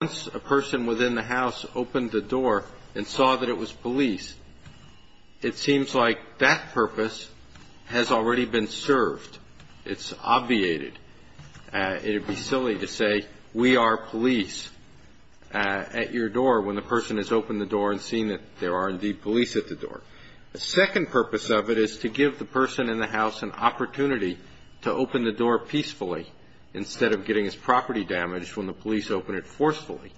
Once a person within the house opened the door and saw that it was police, it seems like that purpose has already been served. It's obviated. It would be silly to say, We are police at your door when the person has opened the door and seen that there are indeed police at the door. The second purpose of it is to give the person in the house an opportunity to open the door peacefully instead of getting his property damaged when the police open it forcefully.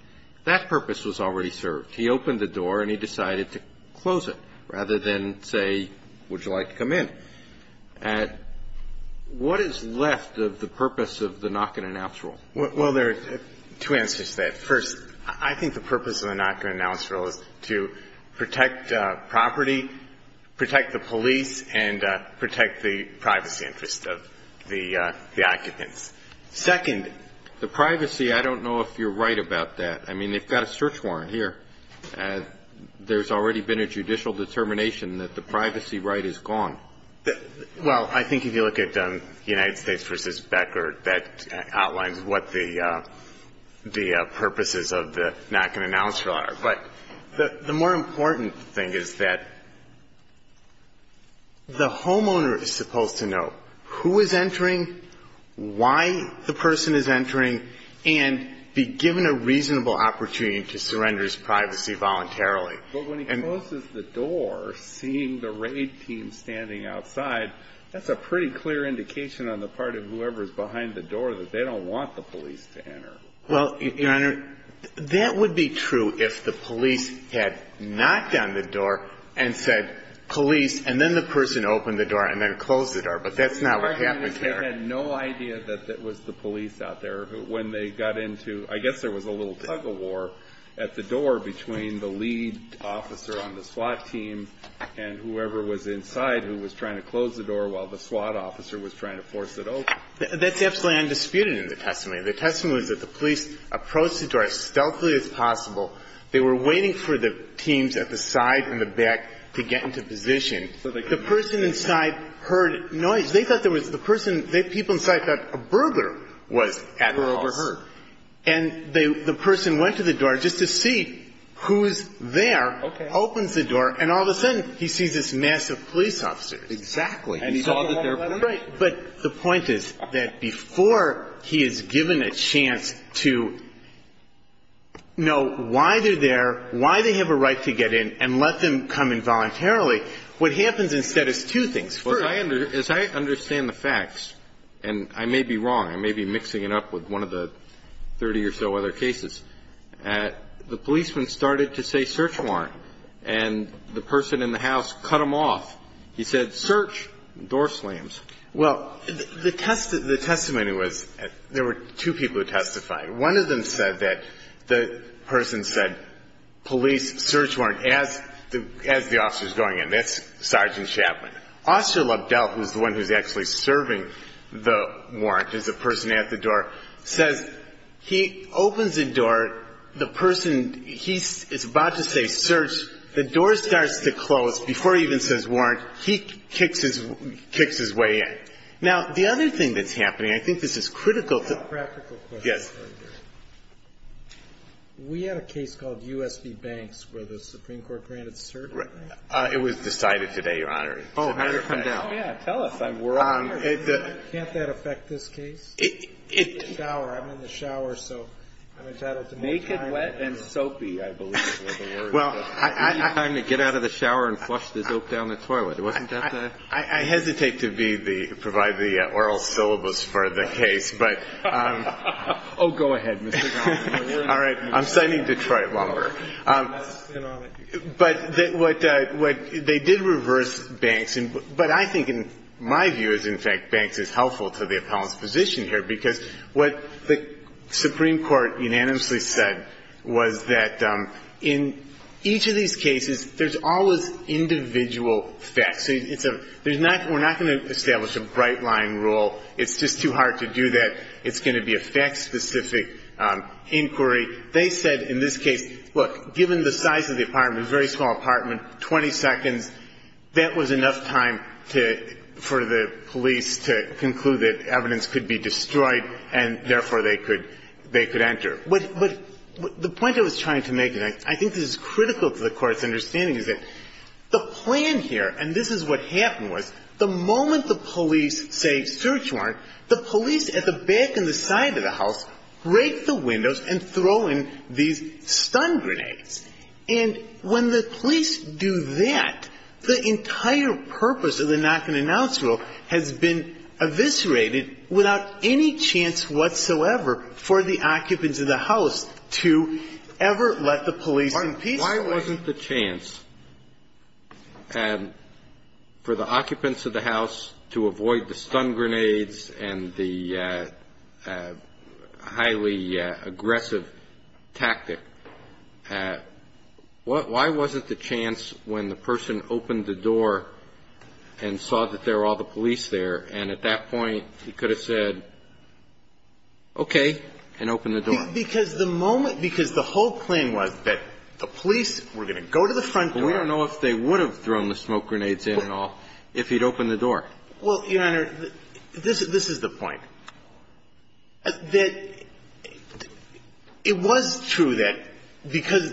That purpose was already served. He opened the door and he decided to close it rather than say, Would you like to come in? What is left of the purpose of the knock-and-announce rule? Well, there are two answers to that. First, I think the purpose of the knock-and-announce rule is to protect property, protect the police, and protect the privacy interest of the occupants. Second, the privacy, I don't know if you're right about that. I mean, they've got a search warrant here. There's already been a judicial determination that the privacy right is gone. Well, I think if you look at the United States v. Becker, that outlines what the purposes of the knock-and-announce rule are. But the more important thing is that the homeowner is supposed to know who is entering, why the person is entering, and be given a reasonable opportunity to surrender his privacy voluntarily. But when he closes the door, seeing the raid team standing outside, that's a pretty clear indication on the part of whoever is behind the door that they don't want the police to enter. Well, Your Honor, that would be true if the police had knocked on the door and said, police, and then the person opened the door and then closed the door. But that's not what happened here. I had no idea that that was the police out there when they got into, I guess there was a little tug-of-war at the door between the lead officer on the SWAT team and whoever was inside who was trying to close the door while the SWAT officer was trying to force it open. That's absolutely undisputed in the testimony. The testimony was that the police approached the door as stealthily as possible. They were waiting for the teams at the side and the back to get into position. The person inside heard noise. They thought there was the person, the people inside thought a burglar was at the house. They were overheard. And the person went to the door just to see who's there, opens the door, and all of a sudden he sees this mass of police officers. Exactly. And he saw that there were people. But the point is that before he is given a chance to know why they're there, why they have a right to get in and let them come in voluntarily, what happens instead is two things. First. As I understand the facts, and I may be wrong, I may be mixing it up with one of the 30 or so other cases, the policeman started to say, search warrant, and the person in the house cut him off. He said, search, door slams. Well, the testimony was there were two people who testified. One of them said that the person said, police, search warrant, as the officer's going in. That's Sergeant Chapman. Officer Lubdell, who's the one who's actually serving the warrant, is the person at the door, says he opens the door, the person, he's about to say search, the door starts to close. Before he even says warrant, he kicks his way in. Now, the other thing that's happening, I think this is critical. Practical question. Yes. We had a case called U.S.B. Banks where the Supreme Court granted cert. Right. It was decided today, Your Honor. Oh, yeah. Tell us. I'm worried. Can't that affect this case? It. Shower. I'm in the shower, so I'm entitled to more time. Naked, wet, and soapy, I believe. Well, I. You need time to get out of the shower and flush the soap down the toilet. Wasn't that the. I hesitate to be the, provide the oral syllabus for the case, but. Oh, go ahead, Mr. Gannon. All right. I'm signing Detroit Lumber. But what, they did reverse Banks, but I think, in my view, is in fact, Banks is helpful to the appellant's position here, because what the Supreme Court unanimously said was that in each of these cases, there's always individual facts. So it's a, there's not, we're not going to establish a bright line rule. It's just too hard to do that. It's going to be a fact-specific inquiry. They said in this case, look, given the size of the apartment, a very small apartment, 20 seconds, that was enough time to, for the police to conclude that evidence could be destroyed and therefore they could, they could enter. But the point I was trying to make, and I think this is critical to the Court's understanding, is that the plan here, and this is what happened, was the moment the police say search warrant, the police at the back and the side of the house break the windows and throw in these stun grenades. And when the police do that, the entire purpose of the knock-and-announce rule has been eviscerated without any chance whatsoever for the occupants of the house to ever let the police in peacefully. Why wasn't the chance for the occupants of the house to avoid the stun grenades and the highly aggressive tactic, why wasn't the chance when the person opened the door and saw that there were all the police there, and at that point he could have said, okay, and opened the door? Because the moment, because the whole plan was that the police were going to go to the front door. But we don't know if they would have thrown the smoke grenades in at all if he'd opened the door. Well, Your Honor, this is the point, that it was true that because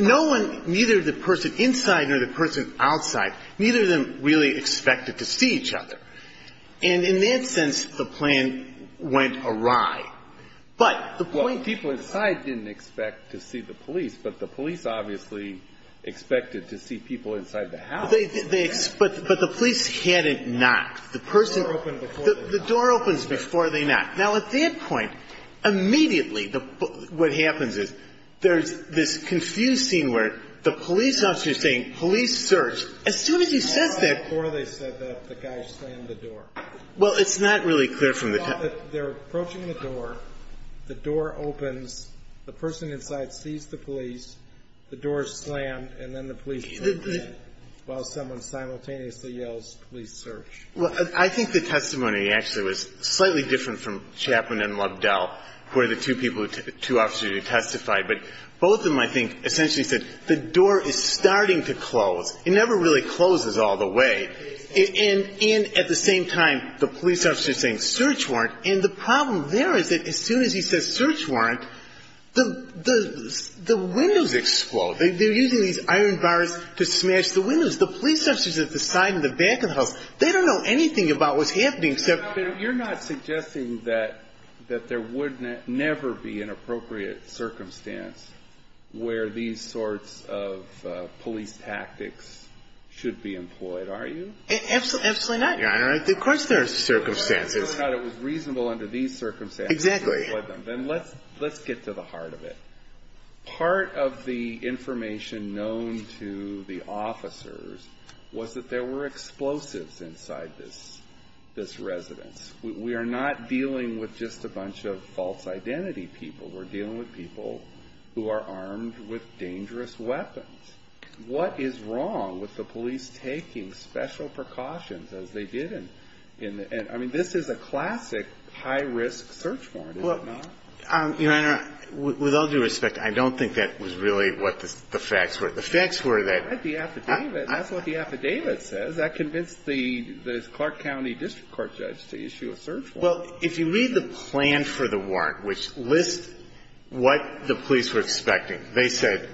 no one, neither the person inside nor the person outside, neither of them really expected to see each other. And in that sense, the plan went awry. But the point... Well, people inside didn't expect to see the police, but the police obviously expected to see people inside the house. But the police hadn't knocked. The person... The door opened before they knocked. The door opens before they knocked. Now, at that point, immediately what happens is there's this confused scene where the police officer is saying, police search. As soon as he says that... Before they said that, the guy slammed the door. Well, it's not really clear from the... Well, they're approaching the door. The door opens. The person inside sees the police. The door is slammed, and then the police open it, while someone simultaneously yells, police search. Well, I think the testimony actually was slightly different from Chapman and Lobdell, where the two people, two officers who testified. But both of them, I think, essentially said, the door is starting to close. It never really closes all the way. And at the same time, the police officer is saying, search warrant. And the problem there is that as soon as he says search warrant, the windows explode. They're using these iron bars to smash the windows. The police officer is at the side and the back of the house. They don't know anything about what's happening except... where these sorts of police tactics should be employed, are you? Absolutely not. Of course there are circumstances. If you thought it was reasonable under these circumstances to employ them, then let's get to the heart of it. Part of the information known to the officers was that there were explosives inside this residence. We are not dealing with just a bunch of false identity people. We're dealing with people who are armed with dangerous weapons. What is wrong with the police taking special precautions as they did in the end? I mean, this is a classic high-risk search warrant, is it not? Your Honor, with all due respect, I don't think that was really what the facts were. The facts were that... I read the affidavit. That's what the affidavit says. That convinced the Clark County district court judge to issue a search warrant. Well, if you read the plan for the warrant, which lists what the police were expecting, they said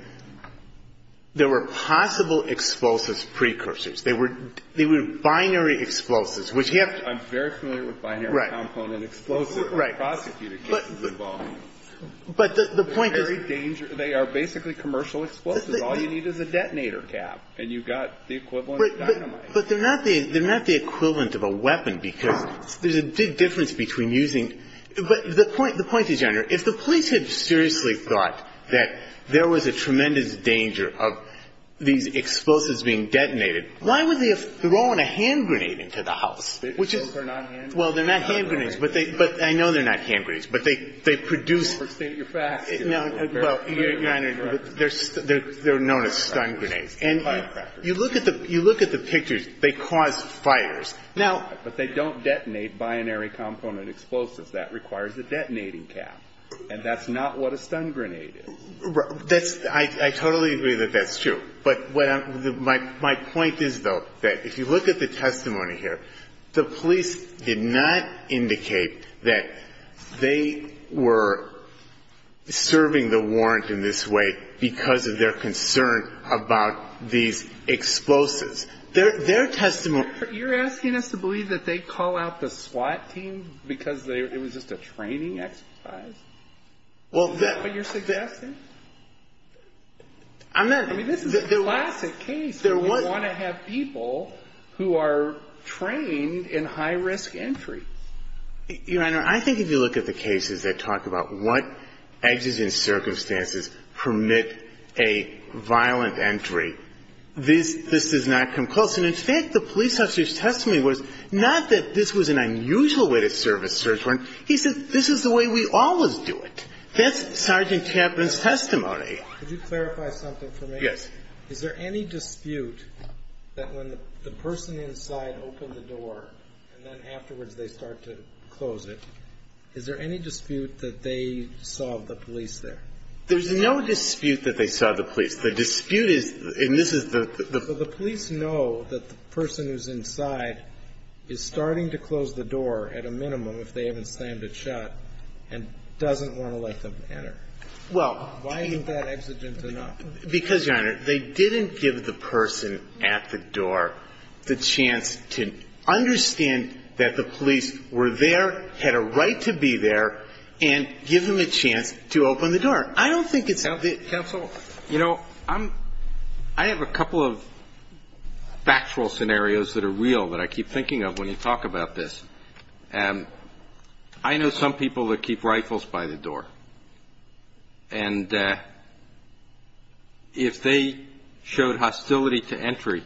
there were possible explosives precursors. They were binary explosives, which you have to... I'm very familiar with binary component explosives. Right. Prosecutor cases involving them. But the point is... They're very dangerous. They are basically commercial explosives. All you need is a detonator cap, and you've got the equivalent dynamite. But they're not the equivalent of a weapon, because there's a big difference between using... The point is, Your Honor, if the police had seriously thought that there was a tremendous danger of these explosives being detonated, why would they have thrown a hand grenade into the house? Well, they're not hand grenades. But I know they're not hand grenades. But they produce... Well, Your Honor, they're known as stun grenades. You look at the pictures, they cause fires. But they don't detonate binary component explosives. That requires a detonating cap. And that's not what a stun grenade is. I totally agree that that's true. But my point is, though, that if you look at the testimony here, the police did not indicate that they were serving the warrant in this way because of their concern about these explosives. Their testimony... You're asking us to believe that they call out the SWAT team because it was just a training exercise? Is that what you're suggesting? I'm not... I mean, this is a classic case. We want to have people who are trained in high-risk entry. Your Honor, I think if you look at the cases that talk about what edges and circumstances permit a violent entry, this does not come close. And in fact, the police officer's testimony was not that this was an unusual way to serve a search warrant. He said, this is the way we always do it. That's Sergeant Chapman's testimony. Could you clarify something for me? Yes. Is there any dispute that when the person inside opened the door and then afterwards they start to close it, is there any dispute that they saw the police there? There's no dispute that they saw the police. The dispute is, and this is the... But the police know that the person who's inside is starting to close the door, at a minimum, if they haven't slammed it shut, and doesn't want to let them enter. Well... Why isn't that exigent enough? Because, Your Honor, they didn't give the person at the door the chance to understand that the police were there, had a right to be there, and give them a chance to open the door. I don't think it's... Counsel, you know, I have a couple of factual scenarios that are real that I keep thinking of when you talk about this. I know some people that keep rifles by the door. And if they showed hostility to entry,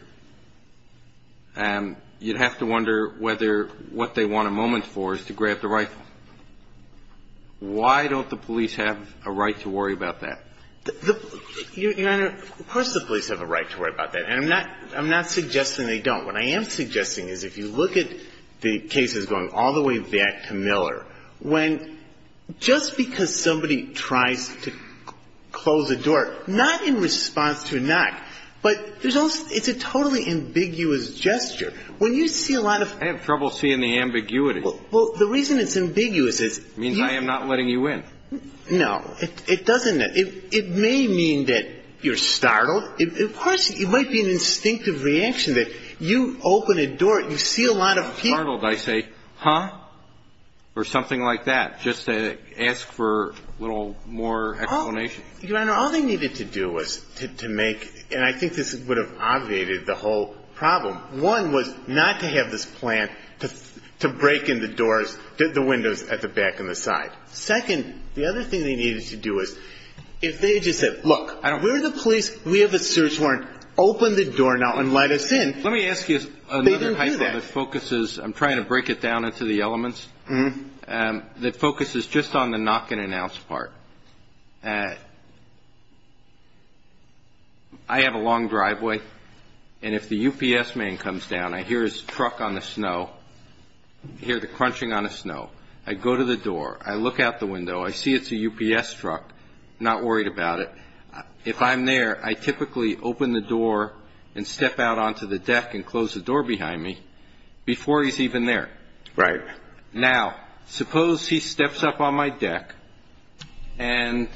you'd have to wonder whether what they want a moment for is to grab the rifle. Why don't the police have a right to worry about that? Your Honor, of course the police have a right to worry about that. And I'm not suggesting they don't. What I am suggesting is if you look at the cases going all the way back to Miller, when just because somebody tries to close a door, not in response to a knock, but it's a totally ambiguous gesture. When you see a lot of... I have trouble seeing the ambiguity. Well, the reason it's ambiguous is... It means I am not letting you in. No, it doesn't. It may mean that you're startled. Of course, it might be an instinctive reaction that you open a door, you see a lot of people... Or something like that, just to ask for a little more explanation. Your Honor, all they needed to do was to make... And I think this would have obviated the whole problem. One was not to have this plan to break in the doors, the windows at the back and the side. Second, the other thing they needed to do was if they just said, look, we're the police, we have a search warrant, open the door now and let us in. They didn't do that. I'm going to go down into the elements. The focus is just on the knock and announce part. I have a long driveway, and if the UPS man comes down, I hear his truck on the snow, hear the crunching on the snow, I go to the door, I look out the window, I see it's a UPS truck, not worried about it. If I'm there, I typically open the door and step out onto the deck and close the door behind me before he's even there. Right. Now, suppose he steps up on my deck and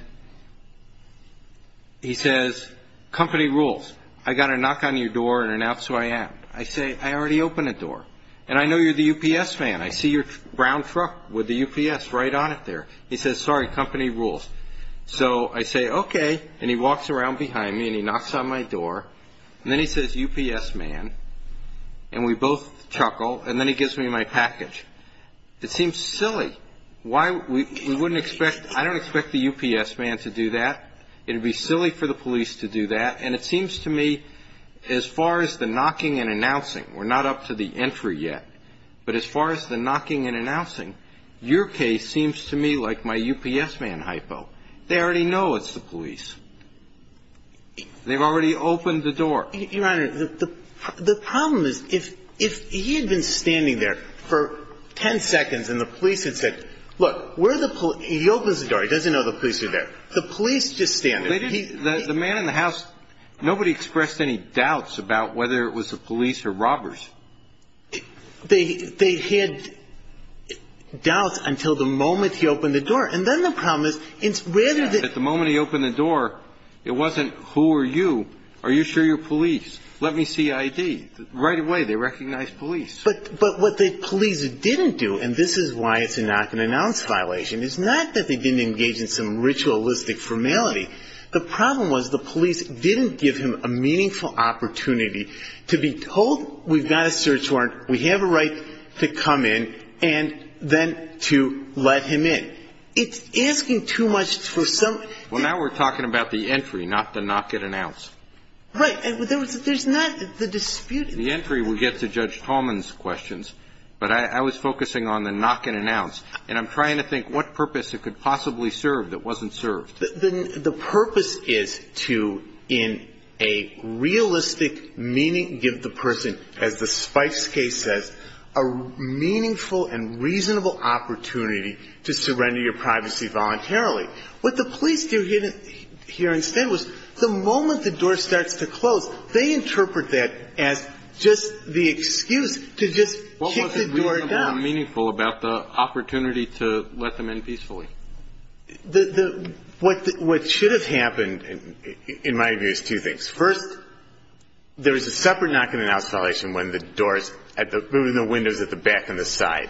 he says, company rules, I've got to knock on your door and announce who I am. I say, I already opened the door, and I know you're the UPS man. I see your brown truck with the UPS right on it there. He says, sorry, company rules. So I say, okay, and he walks around behind me and he knocks on my door, and then he says, UPS man, and we both chuckle, and then he gives me my package. It seems silly. I don't expect the UPS man to do that. It would be silly for the police to do that, and it seems to me as far as the knocking and announcing, we're not up to the entry yet, but as far as the knocking and announcing, your case seems to me like my UPS man hypo. They already know it's the police. They've already opened the door. Your Honor, the problem is if he had been standing there for ten seconds and the police had said, look, we're the police. He opens the door. He doesn't know the police are there. The police just stand there. The man in the house, nobody expressed any doubts about whether it was the police or robbers. They had doubts until the moment he opened the door. It wasn't, who are you? Are you sure you're police? Let me see ID. Right away they recognized police. But what the police didn't do, and this is why it's a knock and announce violation, is not that they didn't engage in some ritualistic formality. The problem was the police didn't give him a meaningful opportunity to be told, we've got a search warrant, we have a right to come in, and then to let him in. It's asking too much for some ---- Well, now we're talking about the entry, not the knock and announce. Right. There's not the dispute. The entry would get to Judge Tolman's questions, but I was focusing on the knock and announce, and I'm trying to think what purpose it could possibly serve that wasn't served. The purpose is to, in a realistic meaning, give the person, as the Spice case says, a meaningful and reasonable opportunity to surrender your privacy voluntarily. What the police do here instead was the moment the door starts to close, they interpret that as just the excuse to just kick the door down. What was reasonable and meaningful about the opportunity to let them in peacefully? What should have happened, in my view, is two things. First, there is a separate knock and announce violation when the doors, moving the windows at the back and the side,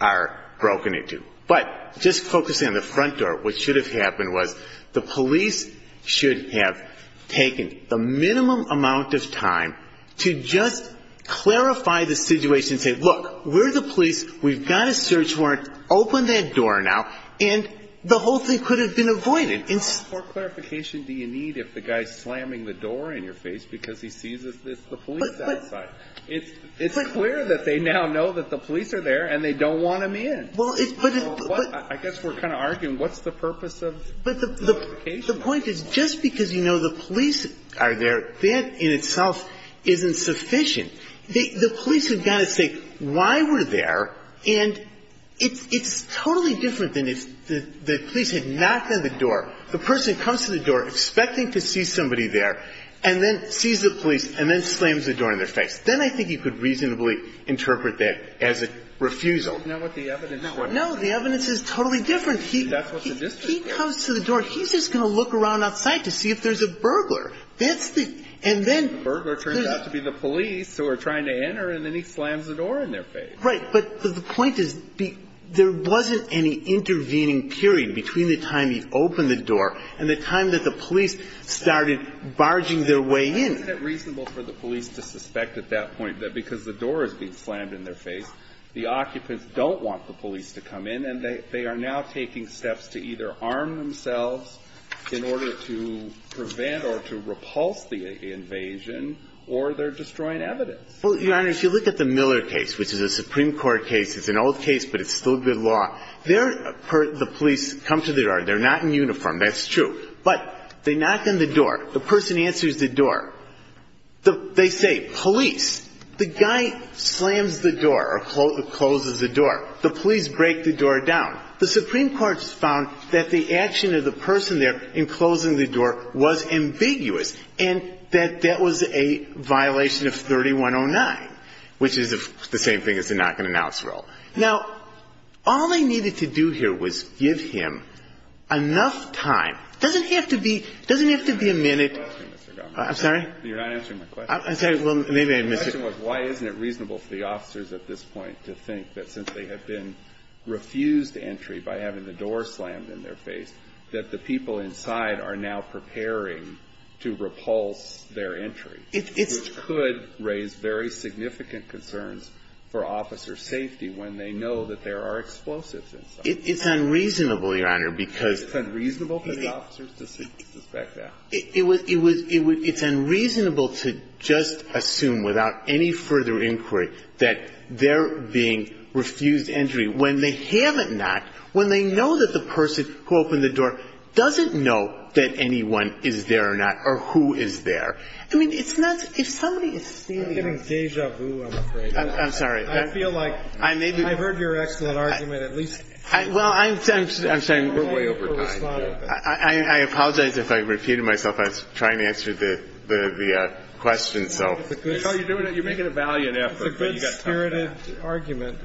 are broken into. But just focusing on the front door, what should have happened was the police should have taken the minimum amount of time to just clarify the situation and say, look, we're the police, we've got a search warrant, open that door now, and the whole thing could have been avoided. How much more clarification do you need if the guy's slamming the door in your face because he sees it's the police outside? It's clear that they now know that the police are there and they don't want him in. I guess we're kind of arguing what's the purpose of the notification? The point is just because you know the police are there, that in itself isn't sufficient. The police have got to say why we're there, and it's totally different than if the police had knocked on the door. The person comes to the door expecting to see somebody there and then sees the police and then slams the door in their face. Then I think you could reasonably interpret that as a refusal. No, the evidence is totally different. If he comes to the door, he's just going to look around outside to see if there's a burglar. That's the – and then – The burglar turns out to be the police who are trying to enter, and then he slams the door in their face. Right. But the point is there wasn't any intervening period between the time he opened the door and the time that the police started barging their way in. Isn't it reasonable for the police to suspect at that point that because the door is being slammed in their face, the occupants don't want the police to come in and they are now taking steps to either arm themselves in order to prevent or to repulse the invasion, or they're destroying evidence? Well, Your Honor, if you look at the Miller case, which is a Supreme Court case, it's an old case, but it's still good law. There, the police come to the door. They're not in uniform. That's true. But they knock on the door. The person answers the door. They say, police. The guy slams the door or closes the door. The police break the door down. The Supreme Court found that the action of the person there in closing the door was ambiguous and that that was a violation of 3109, which is the same thing as the knock-and-announce rule. Now, all they needed to do here was give him enough time. It doesn't have to be a minute. I'm sorry? You're not answering my question. I'm sorry. Well, maybe I missed it. My question was, why isn't it reasonable for the officers at this point to think that since they have been refused entry by having the door slammed in their face, that the people inside are now preparing to repulse their entry? It's... Which could raise very significant concerns for officer safety when they know that there are explosives inside. It's unreasonable, Your Honor, because... It's unreasonable for the officers to suspect that. It's unreasonable to just assume without any further inquiry that they're being refused entry when they haven't knocked, when they know that the person who opened the door doesn't know that anyone is there or not or who is there. I mean, it's not to – if somebody is standing... I'm getting deja vu, I'm afraid. I'm sorry. I feel like I've heard your excellent argument at least... Well, I'm sorry. We're way over time. I apologize if I repeated myself. I was trying to answer the question, so... No, you're doing it. You're making a valiant effort, but you've got time for that. It's a good-spirited argument.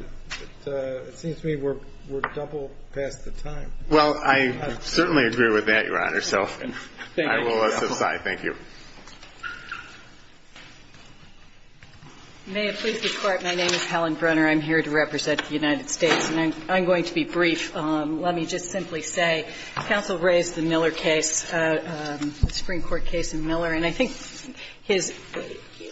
It seems to me we're double past the time. Well, I certainly agree with that, Your Honor, so I will subside. Thank you. May it please the Court, my name is Helen Brenner. I'm here to represent the United States. And I'm going to be brief. Let me just simply say counsel raised the Miller case, the Supreme Court case in Miller. And I think his –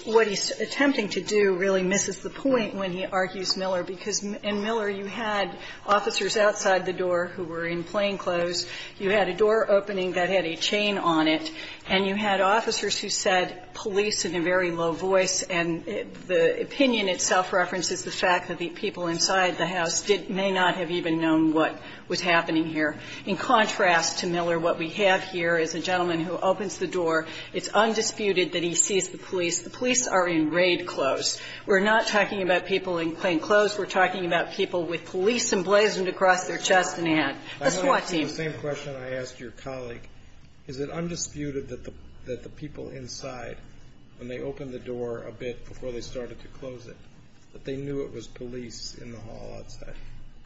what he's attempting to do really misses the point when he argues Miller, because in Miller you had officers outside the door who were in plainclothes, you had a door opening that had a chain on it, and you had officers who said, police in a very low voice, and the opinion itself references the fact that the people inside the house did – may not have even known what was happening here. In contrast to Miller, what we have here is a gentleman who opens the door. It's undisputed that he sees the police. The police are in raid clothes. We're not talking about people in plainclothes. We're talking about people with police emblazoned across their chest and hat. The SWAT team. The same question I asked your colleague, is it undisputed that the people inside, when they opened the door a bit before they started to close it, that they knew it was police in the hall outside?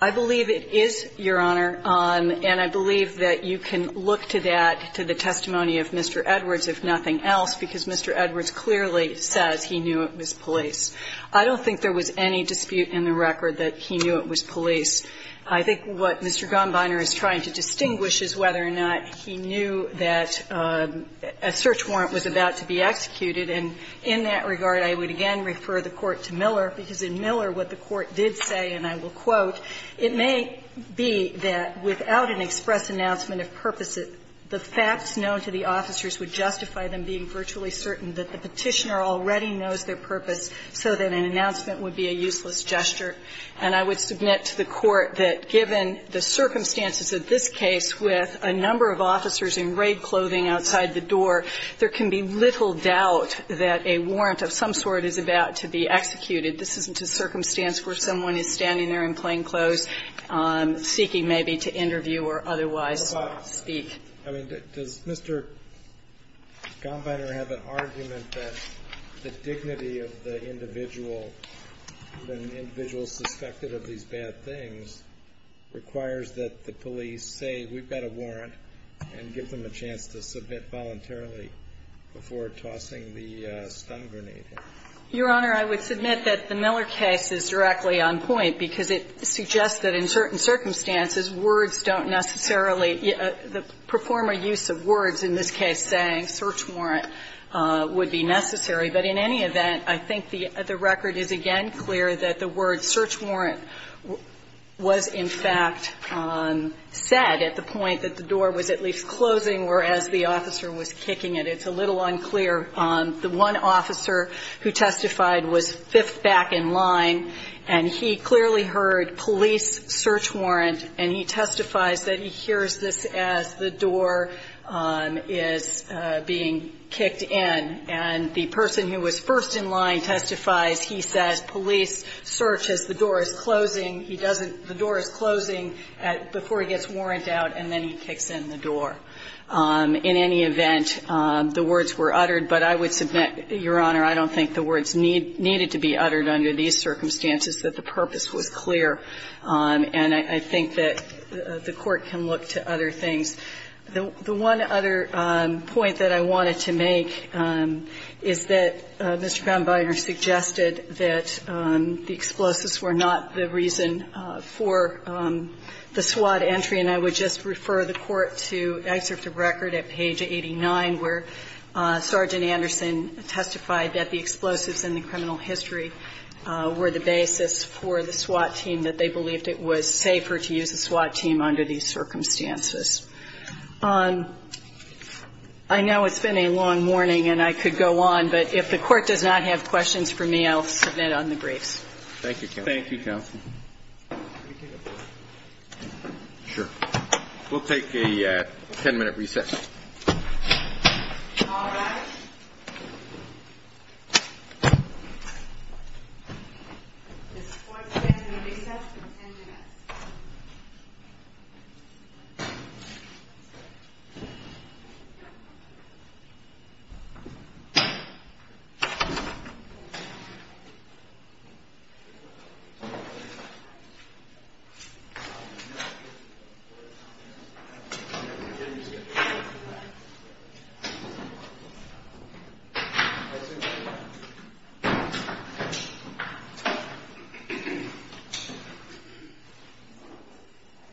I believe it is, Your Honor. And I believe that you can look to that, to the testimony of Mr. Edwards, if nothing else, because Mr. Edwards clearly says he knew it was police. I don't think there was any dispute in the record that he knew it was police. I think what Mr. Gombiner is trying to distinguish is whether or not he knew that a search warrant was about to be executed. And in that regard, I would again refer the Court to Miller, because in Miller what the Court did say, and I will quote, It may be that without an express announcement of purpose, the facts known to the officers would justify them being virtually certain that the Petitioner already knows their purpose, so that an announcement would be a useless gesture. And I would submit to the Court that given the circumstances of this case with a number of officers in raid clothing outside the door, there can be little doubt that a warrant of some sort is about to be executed. This isn't a circumstance where someone is standing there in plain clothes, seeking maybe to interview or otherwise speak. I mean, does Mr. Gombiner have an argument that the dignity of the individual suspected of these bad things requires that the police say, we've got a warrant and give them a chance to submit voluntarily before tossing the stun grenade? Your Honor, I would submit that the Miller case is directly on point, because it suggests that in certain circumstances, words don't necessarily, the performer use of words in this case saying search warrant would be necessary. But in any event, I think the record is again clear that the word search warrant was in fact said at the point that the door was at least closing, whereas the officer was kicking it. It's a little unclear. The one officer who testified was fifth back in line, and he clearly heard police search warrant, and he testifies that he hears this as the door is being kicked in. And the person who was first in line testifies, he says police search as the door is closing, he doesn't, the door is closing before he gets warrant out, and then he kicks in the door. In any event, the words were uttered, but I would submit, Your Honor, I don't think the words needed to be uttered under these circumstances that the purpose was clear. And I think that the Court can look to other things. The one other point that I wanted to make is that Mr. Brownbeiner suggested that the explosives were not the reason for the SWAT entry, and I would just refer the Court to excerpt of record at page 89 where Sergeant Anderson testified that the explosives in the criminal history were the basis for the SWAT team, that they believed it was safer to use the SWAT team under these circumstances. I know it's been a long morning, and I could go on, but if the Court does not have questions for me, I'll submit on the briefs. Thank you, counsel. Thank you, counsel. Sure. We'll take a ten-minute recess. All rise. This Court is adjourned in a recess of ten minutes. Thank you.